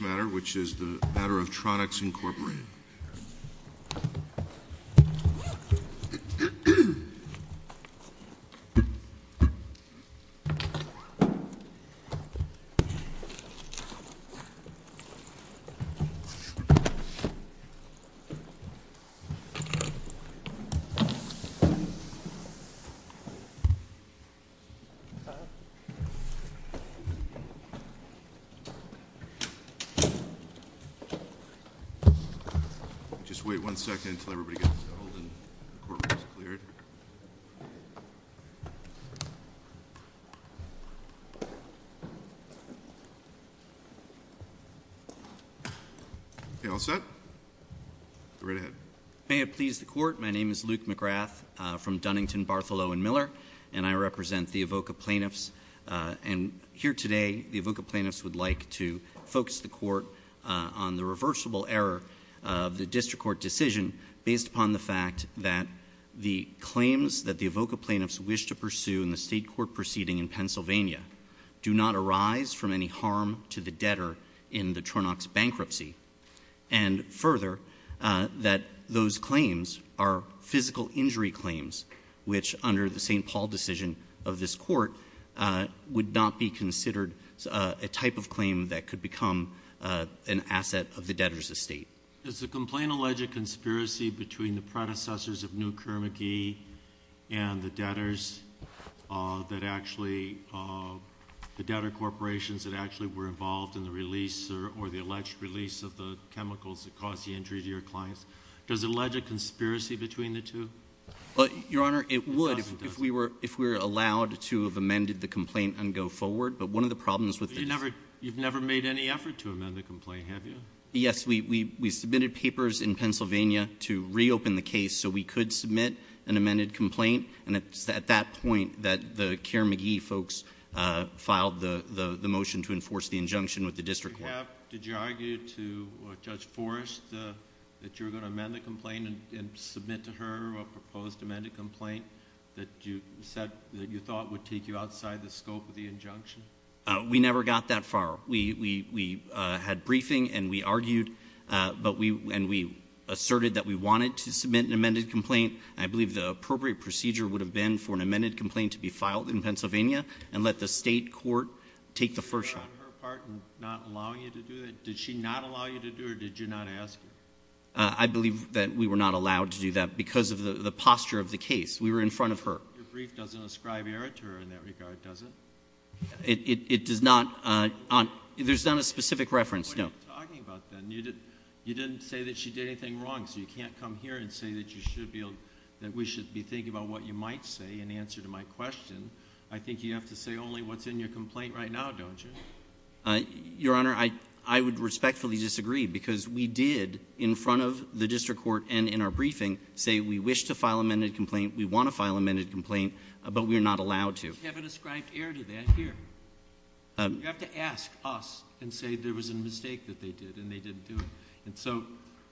matter, which is the matter of Tronox Incorporated. May it please the Court, my name is Luke McGrath from Dunnington, Bartholow & Miller, and I represent the AVOCA plaintiffs, and here today the AVOCA plaintiffs would like to focus the Court on the reversible error of the District Court decision based upon the fact that the claims that the AVOCA plaintiffs wish to pursue in the state court proceeding in Pennsylvania do not arise from any harm to the debtor in the Tronox bankruptcy, and the Paul decision of this Court would not be considered a type of claim that could become an asset of the debtor's estate. Does the complaint allege a conspiracy between the predecessors of New Kermacki and the debtors that actually, the debtor corporations that actually were involved in the release or the alleged release of the chemicals that caused the injury to your clients, does it allege a conspiracy between the two? Well, Your Honor, it would if we were allowed to have amended the complaint and go forward, but one of the problems with the District Court You've never made any effort to amend the complaint, have you? Yes, we submitted papers in Pennsylvania to reopen the case so we could submit an amended complaint, and it's at that point that the Kermacki folks filed the motion to enforce the injunction with the District Court. Did you argue to Judge Forrest that you were going to amend the complaint and submit to a post-amended complaint that you thought would take you outside the scope of the injunction? We never got that far. We had briefing, and we argued, and we asserted that we wanted to submit an amended complaint. I believe the appropriate procedure would have been for an amended complaint to be filed in Pennsylvania and let the State Court take the first shot. Were you on her part in not allowing you to do that? Did she not allow you to do it, or did you not ask her? I believe that we were not allowed to do that because of the posture of the case. We were in front of her. Your brief doesn't ascribe error to her in that regard, does it? It does not. There's not a specific reference, no. What are you talking about, then? You didn't say that she did anything wrong, so you can't come here and say that we should be thinking about what you might say in answer to my question. I think you have to say only what's in your complaint right now, don't you? Your Honor, I would respectfully disagree because we did, in front of the district court and in our briefing, say we wish to file amended complaint, we want to file amended complaint, but we're not allowed to. You haven't ascribed error to that here. You have to ask us and say there was a mistake that they did, and they didn't do it.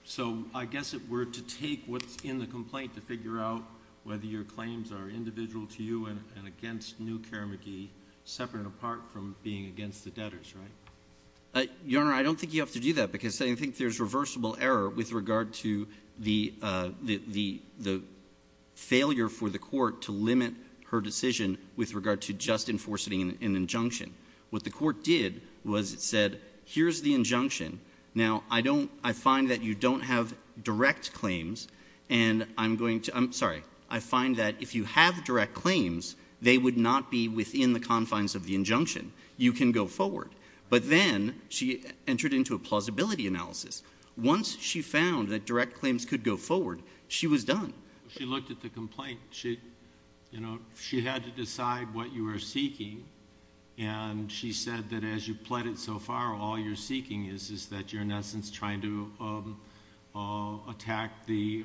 So I guess it were to take what's in the complaint to figure out whether your claims are individual to you and against New Care McGee, separate and apart from being against the debtors, right? Your Honor, I don't think you have to do that because I think there's reversible error with regard to the failure for the court to limit her decision with regard to just enforcing an injunction. What the court did was it said, here's the injunction. Now I find that you don't have direct claims, and I'm going to—I'm sorry. I find that if you have direct claims, they would not be within the confines of the injunction. You can go forward. But then she entered into a plausibility analysis. Once she found that direct claims could go forward, she was done. She looked at the complaint. She had to decide what you were seeking, and she said that as you've pled it so far, all you're seeking is that you're, in essence, trying to attack the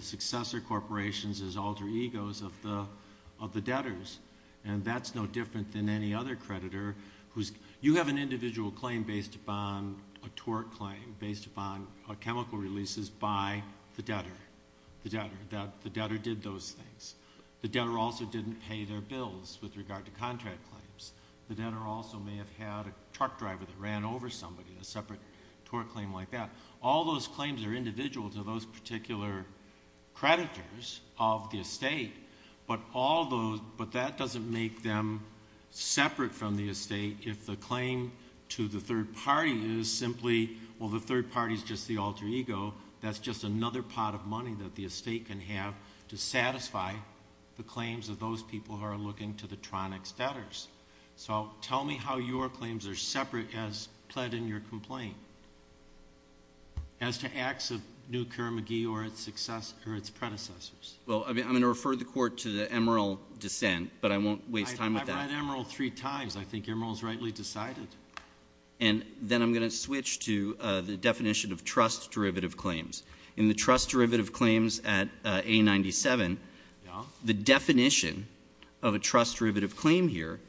successor corporations as alter egos of the debtors. And that's no different than any other creditor who's—you have an individual claim based upon a tort claim, based upon chemical releases by the debtor, that the debtor did those things. The debtor also didn't pay their bills with regard to contract claims. The debtor also may have had a truck driver that ran over somebody, a separate tort claim like that. All those claims are individual to those particular creditors of the estate, but that doesn't make them separate from the estate if the claim to the third party is simply, well, the third party's just the alter ego. That's just another pot of money that the estate can have to satisfy the claims of those people who are looking to the Tronics debtors. So tell me how your claims are separate as pled in your complaint as to acts of New Kermagee or its predecessors. Well, I mean, I'm going to refer the court to the Emerald dissent, but I won't waste time with that. I've read Emerald three times. I think Emerald's rightly decided. And then I'm going to switch to the definition of trust derivative claims. In the trust derivative claims at A97, the definition of a trust derivative claim here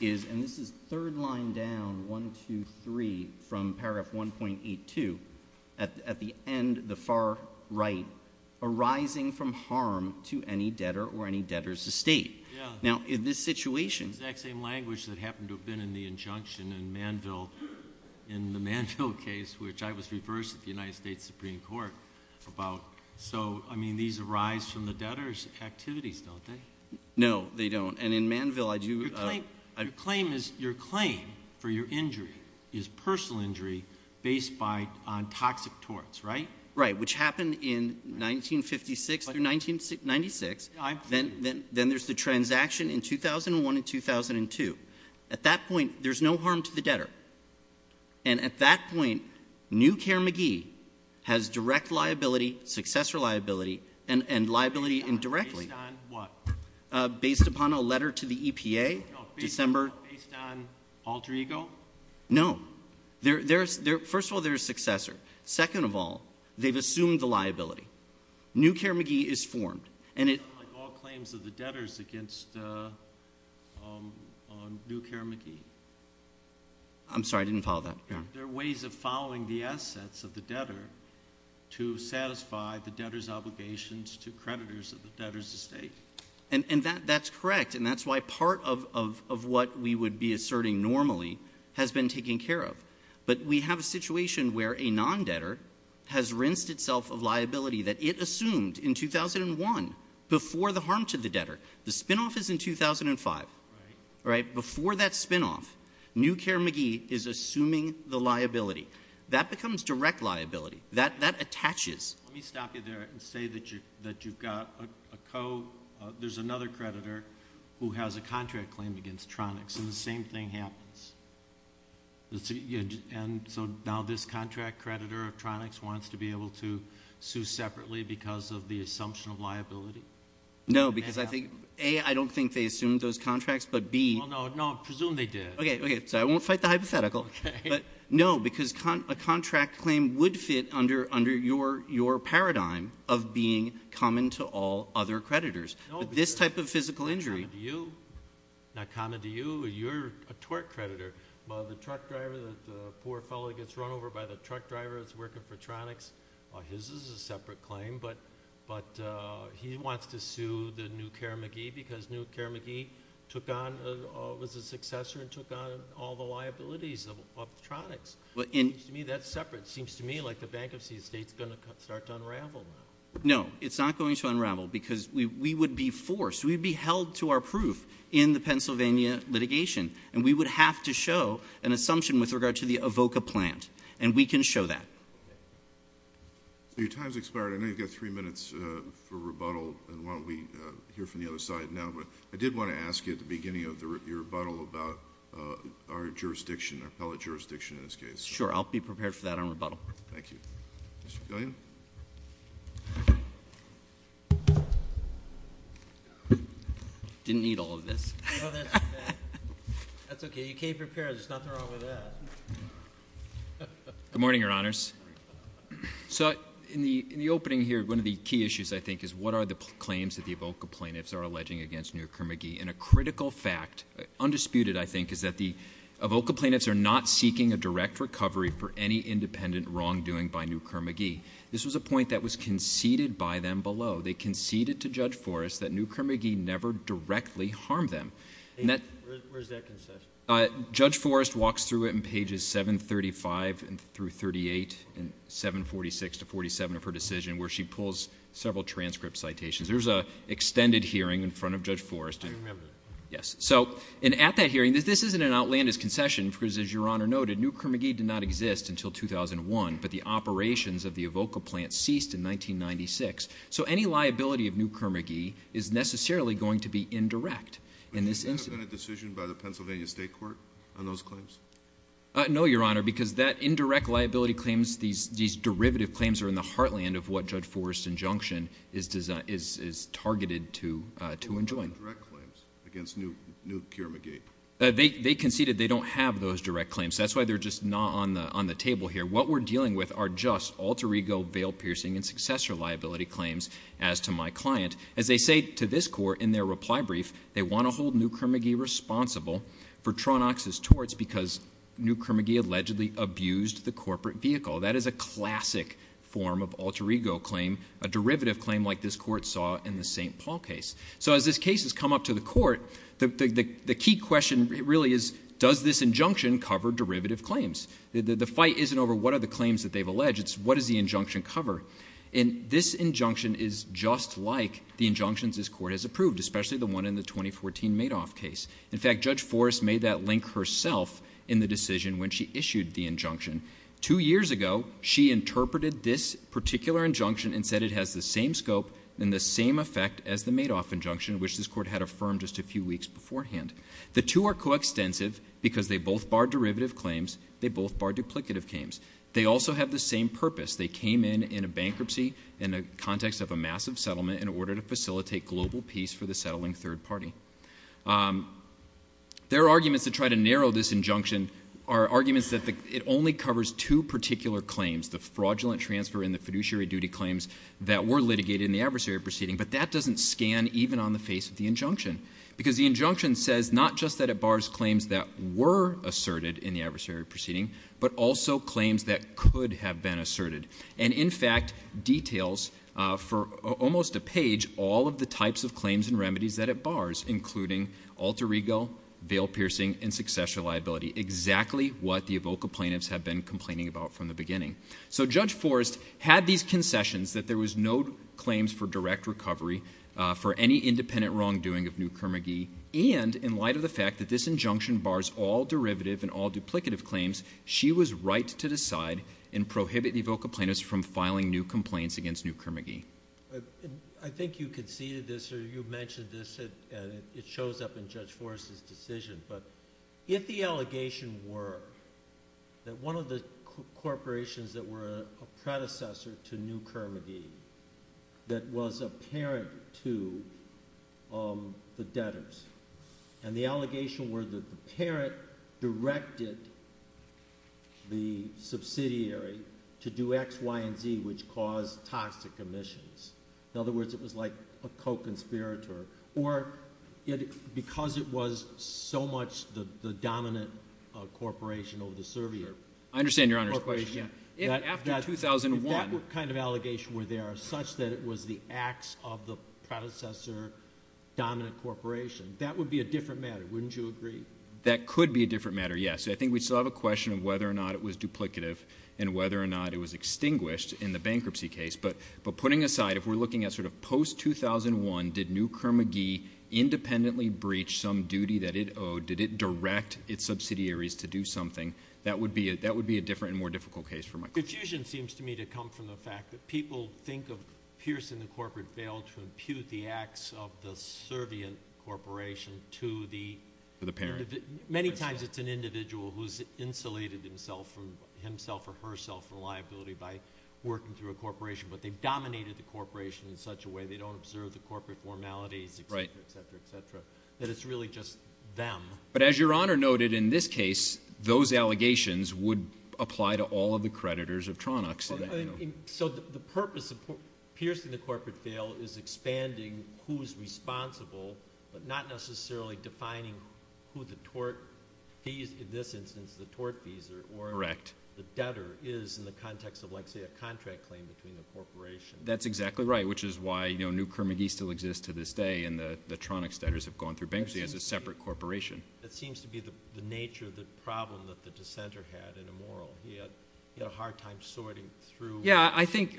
is, and this is third line down, 1, 2, 3, from paragraph 1.82, at the end, the far right, arising from harm to any debtor or any debtor's estate. Now in this situation. It's the exact same language that happened to have been in the injunction in Manville, in the Manville case, which I was reversed at the United States Supreme Court about. So I mean, these arise from the debtor's activities, don't they? No, they don't. And in Manville, I do. Your claim for your injury is personal injury based on toxic torts, right? Right, which happened in 1956 through 1996. Then there's the transaction in 2001 and 2002. At that point, there's no harm to the debtor. And at that point, New Care McGee has direct liability, successor liability, and liability indirectly. Based on what? Based upon a letter to the EPA, December. Based on alter ego? No. First of all, they're a successor. Second of all, they've assumed the liability. New Care McGee is formed. And it- All claims of the debtors against New Care McGee. I'm sorry, I didn't follow that. There are ways of following the assets of the debtor to satisfy the debtor's obligations to creditors of the debtor's estate. And that's correct. And that's why part of what we would be asserting normally has been taken care of. But we have a situation where a non-debtor has rinsed itself of liability that it assumed in 2001. Before the harm to the debtor. The spinoff is in 2005, right? Before that spinoff, New Care McGee is assuming the liability. That becomes direct liability. That attaches. Let me stop you there and say that you've got a co, there's another creditor who has a contract claim against Tronics, and the same thing happens. And so now this contract creditor of Tronics wants to be able to sue separately because of the assumption of liability? No, because I think, A, I don't think they assumed those contracts, but B- No, no, no, I presume they did. Okay, okay, so I won't fight the hypothetical. But no, because a contract claim would fit under your paradigm of being common to all other creditors. This type of physical injury- Not common to you. Not common to you. You're a tort creditor. The truck driver, the poor fellow that gets run over by the truck driver that's working for Tronics, his is a separate claim. But he wants to sue the New Care McGee because New Care McGee took on, was a successor and took on all the liabilities of Tronics. It seems to me that's separate. It seems to me like the bankruptcy state's going to start to unravel now. No, it's not going to unravel because we would be forced. We'd be held to our proof in the Pennsylvania litigation. And we would have to show an assumption with regard to the Avoca plant. And we can show that. Your time's expired. I know you've got three minutes for rebuttal, and why don't we hear from the other side now. But I did want to ask you at the beginning of your rebuttal about our jurisdiction, our appellate jurisdiction in this case. Sure, I'll be prepared for that on rebuttal. Thank you. Mr. Gillian? Didn't need all of this. That's okay, you came prepared, there's nothing wrong with that. Good morning, your honors. So in the opening here, one of the key issues, I think, is what are the claims that the Avoca plaintiffs are alleging against New Care McGee? And a critical fact, undisputed, I think, is that the Avoca plaintiffs are not seeking a direct recovery for any independent wrongdoing by New Care McGee. This was a point that was conceded by them below. They conceded to Judge Forrest that New Care McGee never directly harmed them. And that- Where's that concession? Judge Forrest walks through it in pages 735 through 38, and 746 to 47 of her decision, where she pulls several transcript citations. There's a extended hearing in front of Judge Forrest. I remember that. Yes, so, and at that hearing, this isn't an outlandish concession, because as your honor noted, New Care McGee did not exist until 2001, but the operations of the Avoca plant ceased in 1996. So, any liability of New Care McGee is necessarily going to be indirect in this instance. But does that have been a decision by the Pennsylvania State Court on those claims? No, your honor, because that indirect liability claims, these derivative claims are in the heartland of what Judge Forrest's injunction is targeted to enjoin. What about the direct claims against New Care McGee? They conceded they don't have those direct claims. That's why they're just not on the table here. What we're dealing with are just alter ego, veil piercing, and successor liability claims as to my client. As they say to this court in their reply brief, they want to hold New Care McGee responsible for Tronox's torts because New Care McGee allegedly abused the corporate vehicle. That is a classic form of alter ego claim, a derivative claim like this court saw in the St. Paul case. So as this case has come up to the court, the key question really is, does this injunction cover derivative claims? The fight isn't over what are the claims that they've alleged, it's what does the injunction cover? And this injunction is just like the injunctions this court has approved, especially the one in the 2014 Madoff case. In fact, Judge Forrest made that link herself in the decision when she issued the injunction. Two years ago, she interpreted this particular injunction and said it has the same scope and the same effect as the Madoff injunction, which this court had affirmed just a few weeks beforehand. The two are coextensive because they both bar derivative claims, they both bar duplicative claims. They also have the same purpose. They came in in a bankruptcy in the context of a massive settlement in order to facilitate global peace for the settling third party. Their arguments to try to narrow this injunction are arguments that it only covers two particular claims, the fraudulent transfer and the fiduciary duty claims that were litigated in the adversary proceeding. But that doesn't scan even on the face of the injunction. Because the injunction says not just that it bars claims that were asserted in the adversary proceeding, but also claims that could have been asserted. And in fact, details for almost a page, all of the types of claims and remedies that it bars, including alter ego, veil piercing, and successor liability. Exactly what the Evoca plaintiffs have been complaining about from the beginning. So Judge Forrest had these concessions that there was no claims for direct recovery for any independent wrongdoing of New Kermagee, and in light of the fact that this injunction bars all derivative and all duplicative claims, she was right to decide and prohibit Evoca plaintiffs from filing new complaints against New Kermagee. I think you conceded this, or you mentioned this, and it shows up in Judge Forrest's decision. But if the allegation were that one of the corporations that were a predecessor to New Kermagee that was a parent to the debtors. And the allegation were that the parent directed the subsidiary to do X, Y, and Z, which caused toxic emissions. In other words, it was like a co-conspirator. Or because it was so much the dominant corporation over the surveyor. I understand your Honor's question. If after 2001- If that kind of allegation were there, such that it was the acts of the predecessor dominant corporation, that would be a different matter, wouldn't you agree? That could be a different matter, yes. I think we still have a question of whether or not it was duplicative, and whether or not it was extinguished in the bankruptcy case. But putting aside, if we're looking at sort of post-2001, did New Kermagee independently breach some duty that it owed? Did it direct its subsidiaries to do something? That would be a different and more difficult case for my- Confusion seems to me to come from the fact that people think of piercing the corporate veil to impute the acts of the servient corporation to the- For the parent. Many times it's an individual who's insulated himself or herself from liability by working through a corporation. But they've dominated the corporation in such a way they don't observe the corporate formalities, etc., etc., etc., that it's really just them. But as your Honor noted, in this case, those allegations would apply to all of the creditors of Tronux. So the purpose of piercing the corporate veil is expanding who's responsible, but not necessarily defining who the tort fees, in this instance, the tort fees are. Correct. The debtor is in the context of, let's say, a contract claim between the corporation. That's exactly right, which is why New Kermagee still exists to this day, and the Tronux debtors have gone through bankruptcy as a separate corporation. That seems to be the nature of the problem that the dissenter had in a moral. He had a hard time sorting through- Yeah, I think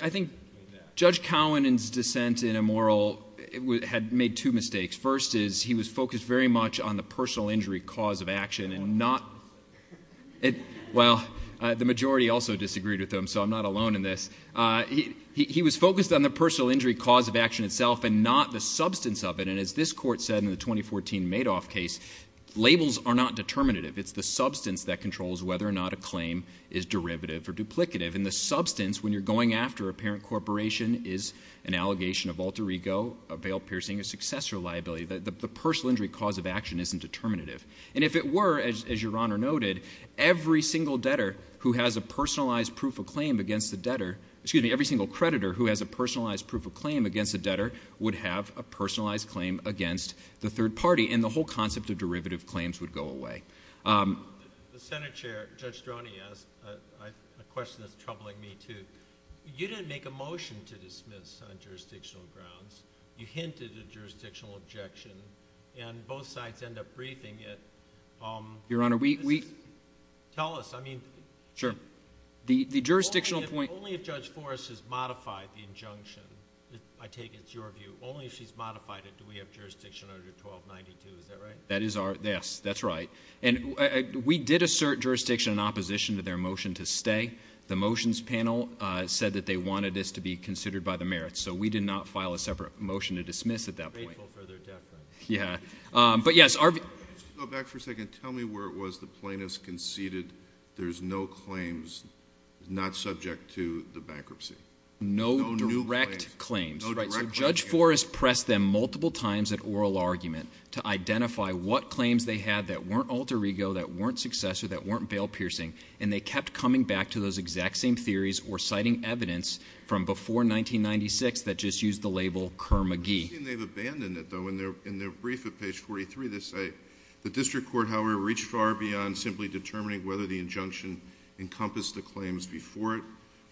Judge Cowan's dissent in a moral had made two mistakes. First is, he was focused very much on the personal injury cause of action and not- Well, the majority also disagreed with him, so I'm not alone in this. He was focused on the personal injury cause of action itself and not the substance of it. And as this court said in the 2014 Madoff case, labels are not determinative. It's the substance that controls whether or not a claim is derivative or duplicative. And the substance, when you're going after a parent corporation, is an allegation of alter ego, a veil piercing, a successor liability. The personal injury cause of action isn't determinative. And if it were, as your Honor noted, every single creditor who has a personalized proof of claim against the debtor would have a personalized claim against the third party. And the whole concept of derivative claims would go away. The Senate Chair, Judge Stroni, asked a question that's troubling me too. You didn't make a motion to dismiss on jurisdictional grounds. You hinted at jurisdictional objection and both sides end up briefing it. Your Honor, we- Tell us, I mean- Sure. The jurisdictional point- Only if Judge Forrest has modified the injunction, I take it's your view. Only if she's modified it, do we have jurisdiction under 1292, is that right? That is our, yes, that's right. And we did assert jurisdiction in opposition to their motion to stay. The motions panel said that they wanted this to be considered by the merits, so we did not file a separate motion to dismiss at that point. Grateful for their deference. Yeah, but yes, our- Go back for a second, tell me where it was the plaintiffs conceded there's no claims, not subject to the bankruptcy. No direct claims. Right, so Judge Forrest pressed them multiple times at oral argument to identify what claims they had that weren't alter ego, that weren't successor, that weren't bail piercing. And they kept coming back to those exact same theories or citing evidence from before 1996 that just used the label Kerr-McGee. It doesn't seem they've abandoned it though, in their brief at page 43, they say, the district court, however, reached far beyond simply determining whether the injunction encompassed the claims before it.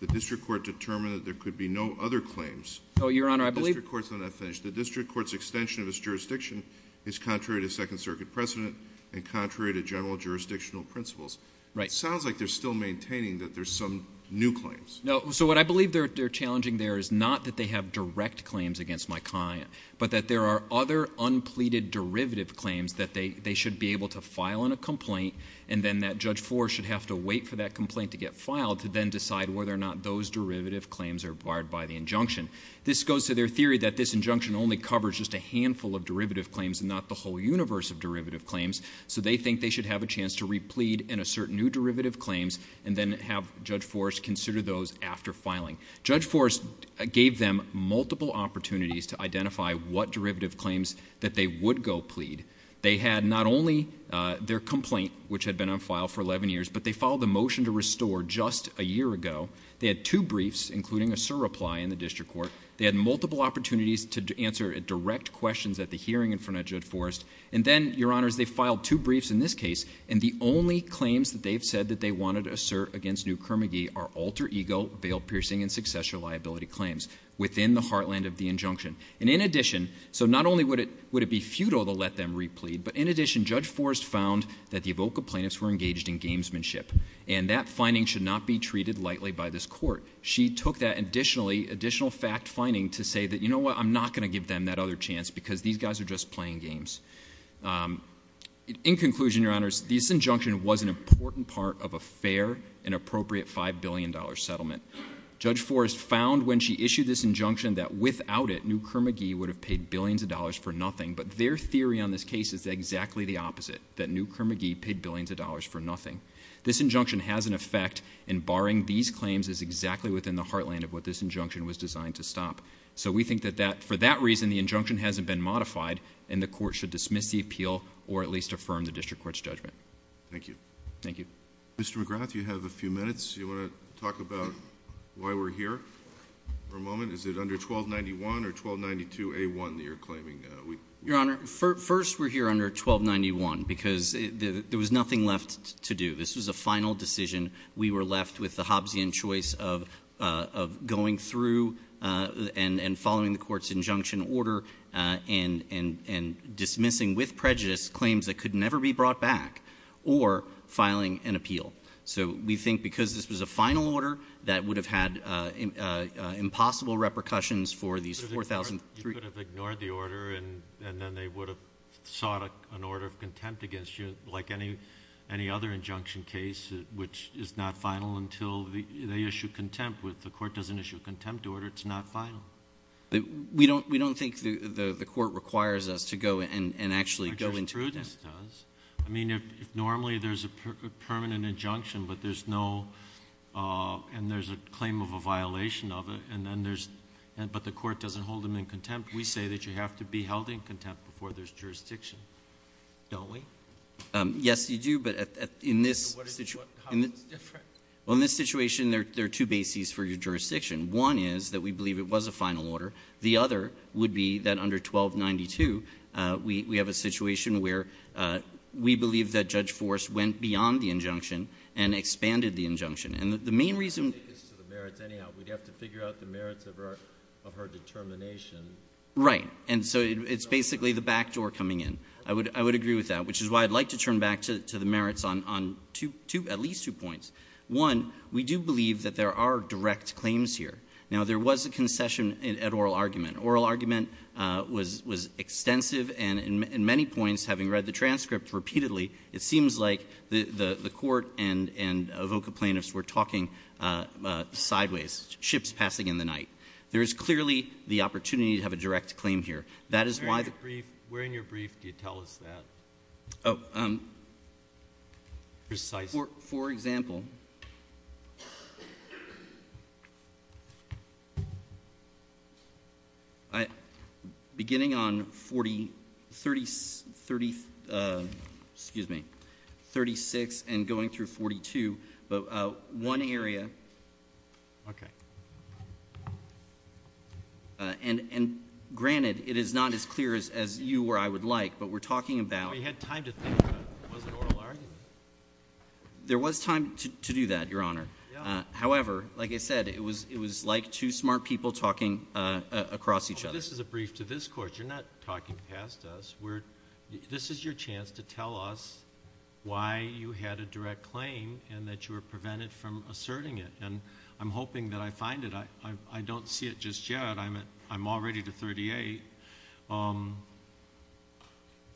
The district court determined that there could be no other claims. Your honor, I believe- The district court's extension of its jurisdiction is contrary to second circuit precedent and contrary to general jurisdictional principles. It sounds like they're still maintaining that there's some new claims. No, so what I believe they're challenging there is not that they have direct claims against my client, but that there are other unpleaded derivative claims that they should be able to file in a complaint. And then that Judge Forrest should have to wait for that complaint to get filed to then decide whether or not those derivative claims are acquired by the injunction. This goes to their theory that this injunction only covers just a handful of derivative claims and not the whole universe of derivative claims. So they think they should have a chance to replead and assert new derivative claims and then have Judge Forrest consider those after filing. Judge Forrest gave them multiple opportunities to identify what derivative claims that they would go plead. They had not only their complaint, which had been on file for 11 years, but they filed a motion to restore just a year ago. They had two briefs, including a sir reply in the district court. They had multiple opportunities to answer direct questions at the hearing in front of Judge Forrest. And then, your honors, they filed two briefs in this case. And the only claims that they've said that they wanted to assert against New Kermagee are alter ego, veil piercing, and successor liability claims within the heartland of the injunction. And in addition, so not only would it be futile to let them replead, but in addition, Judge Forrest found that the Avoca plaintiffs were engaged in gamesmanship, and that finding should not be treated lightly by this court. She took that additional fact finding to say that, you know what, I'm not going to give them that other chance because these guys are just playing games. In conclusion, your honors, this injunction was an important part of a fair and appropriate $5 billion settlement. Judge Forrest found when she issued this injunction that without it, New Kermagee would have paid billions of dollars for nothing. But their theory on this case is exactly the opposite, that New Kermagee paid billions of dollars for nothing. This injunction has an effect in barring these claims as exactly within the heartland of what this injunction was designed to stop. So we think that for that reason, the injunction hasn't been modified, and the court should dismiss the appeal or at least affirm the district court's judgment. Thank you. Thank you. Mr. McGrath, you have a few minutes. You want to talk about why we're here for a moment? Is it under 1291 or 1292A1 that you're claiming? Your honor, first we're here under 1291 because there was nothing left to do. This was a final decision. We were left with the Hobbesian choice of going through and following the court's injunction order and dismissing with prejudice claims that could never be brought back. Or filing an appeal. So we think because this was a final order, that would have had impossible repercussions for these 4,000- You could have ignored the order, and then they would have sought an order of contempt against you, like any other injunction case, which is not final until they issue contempt. If the court doesn't issue a contempt order, it's not final. We don't think the court requires us to go and actually go into contempt. Yes, it does. I mean, normally there's a permanent injunction, but there's no, and there's a claim of a violation of it, and then there's, but the court doesn't hold them in contempt. We say that you have to be held in contempt before there's jurisdiction. Don't we? Yes, you do, but in this situation- How is this different? Well, in this situation, there are two bases for your jurisdiction. One is that we believe it was a final order. The other would be that under 1292, we have a situation where we believe that Judge Forrest went beyond the injunction and expanded the injunction, and the main reason- I think it's to the merits anyhow. We'd have to figure out the merits of her determination. Right. And so it's basically the backdoor coming in. I would agree with that, which is why I'd like to turn back to the merits on two, at least two points. One, we do believe that there are direct claims here. Now, there was a concession at oral argument. Oral argument was extensive, and in many points, having read the transcript repeatedly, it seems like the court and a vocal plaintiffs were talking sideways, ships passing in the night. There is clearly the opportunity to have a direct claim here. That is why the- Where in your brief do you tell us that, precisely? For example, beginning on 30, excuse me, 36 and going through 42, but one area. Okay. And granted, it is not as clear as you or I would like, but we're talking about- We had time to think about, was it oral argument? There was time to do that, your honor. However, like I said, it was like two smart people talking across each other. This is a brief to this court. You're not talking past us. This is your chance to tell us why you had a direct claim and that you were prevented from asserting it. And I'm hoping that I find it. I don't see it just yet. I'm already to 38.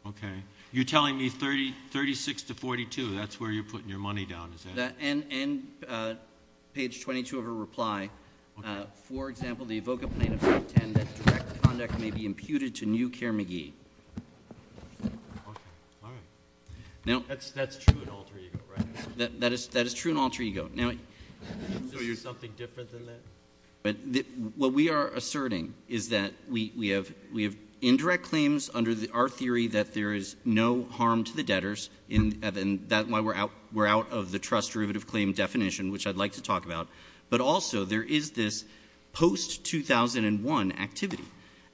Okay. You're telling me 36 to 42, that's where you're putting your money down, is that it? And page 22 of her reply, for example, the evoke a plaintiff's intent that direct conduct may be imputed to new care McGee. Okay, all right. Now- That's true in alter ego, right? That is true in alter ego. Now- So you're something different than that? But what we are asserting is that we have indirect claims under our theory that there is no harm to the debtors. And that's why we're out of the trust derivative claim definition, which I'd like to talk about. But also, there is this post 2001 activity.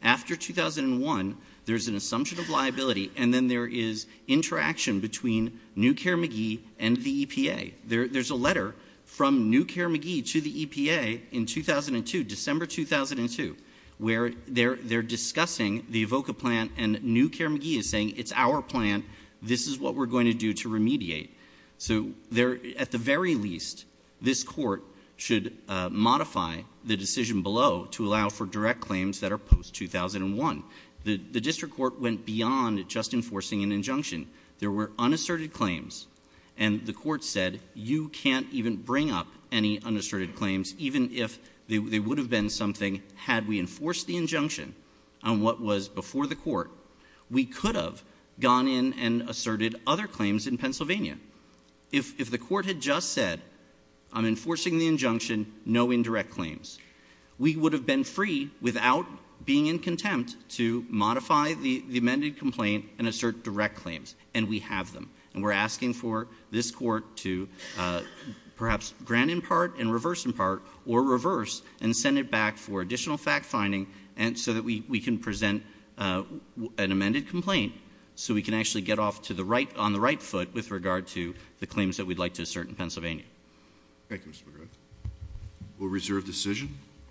After 2001, there's an assumption of liability, and then there is interaction between New Care McGee and the EPA. There's a letter from New Care McGee to the EPA in 2002, December 2002, where they're discussing the evoke a plan and New Care McGee is saying, it's our plan. This is what we're going to do to remediate. So at the very least, this court should modify the decision below to allow for direct claims that are post 2001. The district court went beyond just enforcing an injunction. There were unasserted claims, and the court said, you can't even bring up any unasserted claims, even if they would have been something had we enforced the injunction on what was before the court. We could have gone in and asserted other claims in Pennsylvania. If the court had just said, I'm enforcing the injunction, no indirect claims. We would have been free without being in contempt to modify the amended complaint and assert direct claims, and we have them. And we're asking for this court to perhaps grant in part and reverse in part or reverse and send it back for additional fact finding so that we can present an amended complaint. So we can actually get off on the right foot with regard to the claims that we'd like to assert in Pennsylvania. Thank you, Mr. McGrath. We'll reserve decision.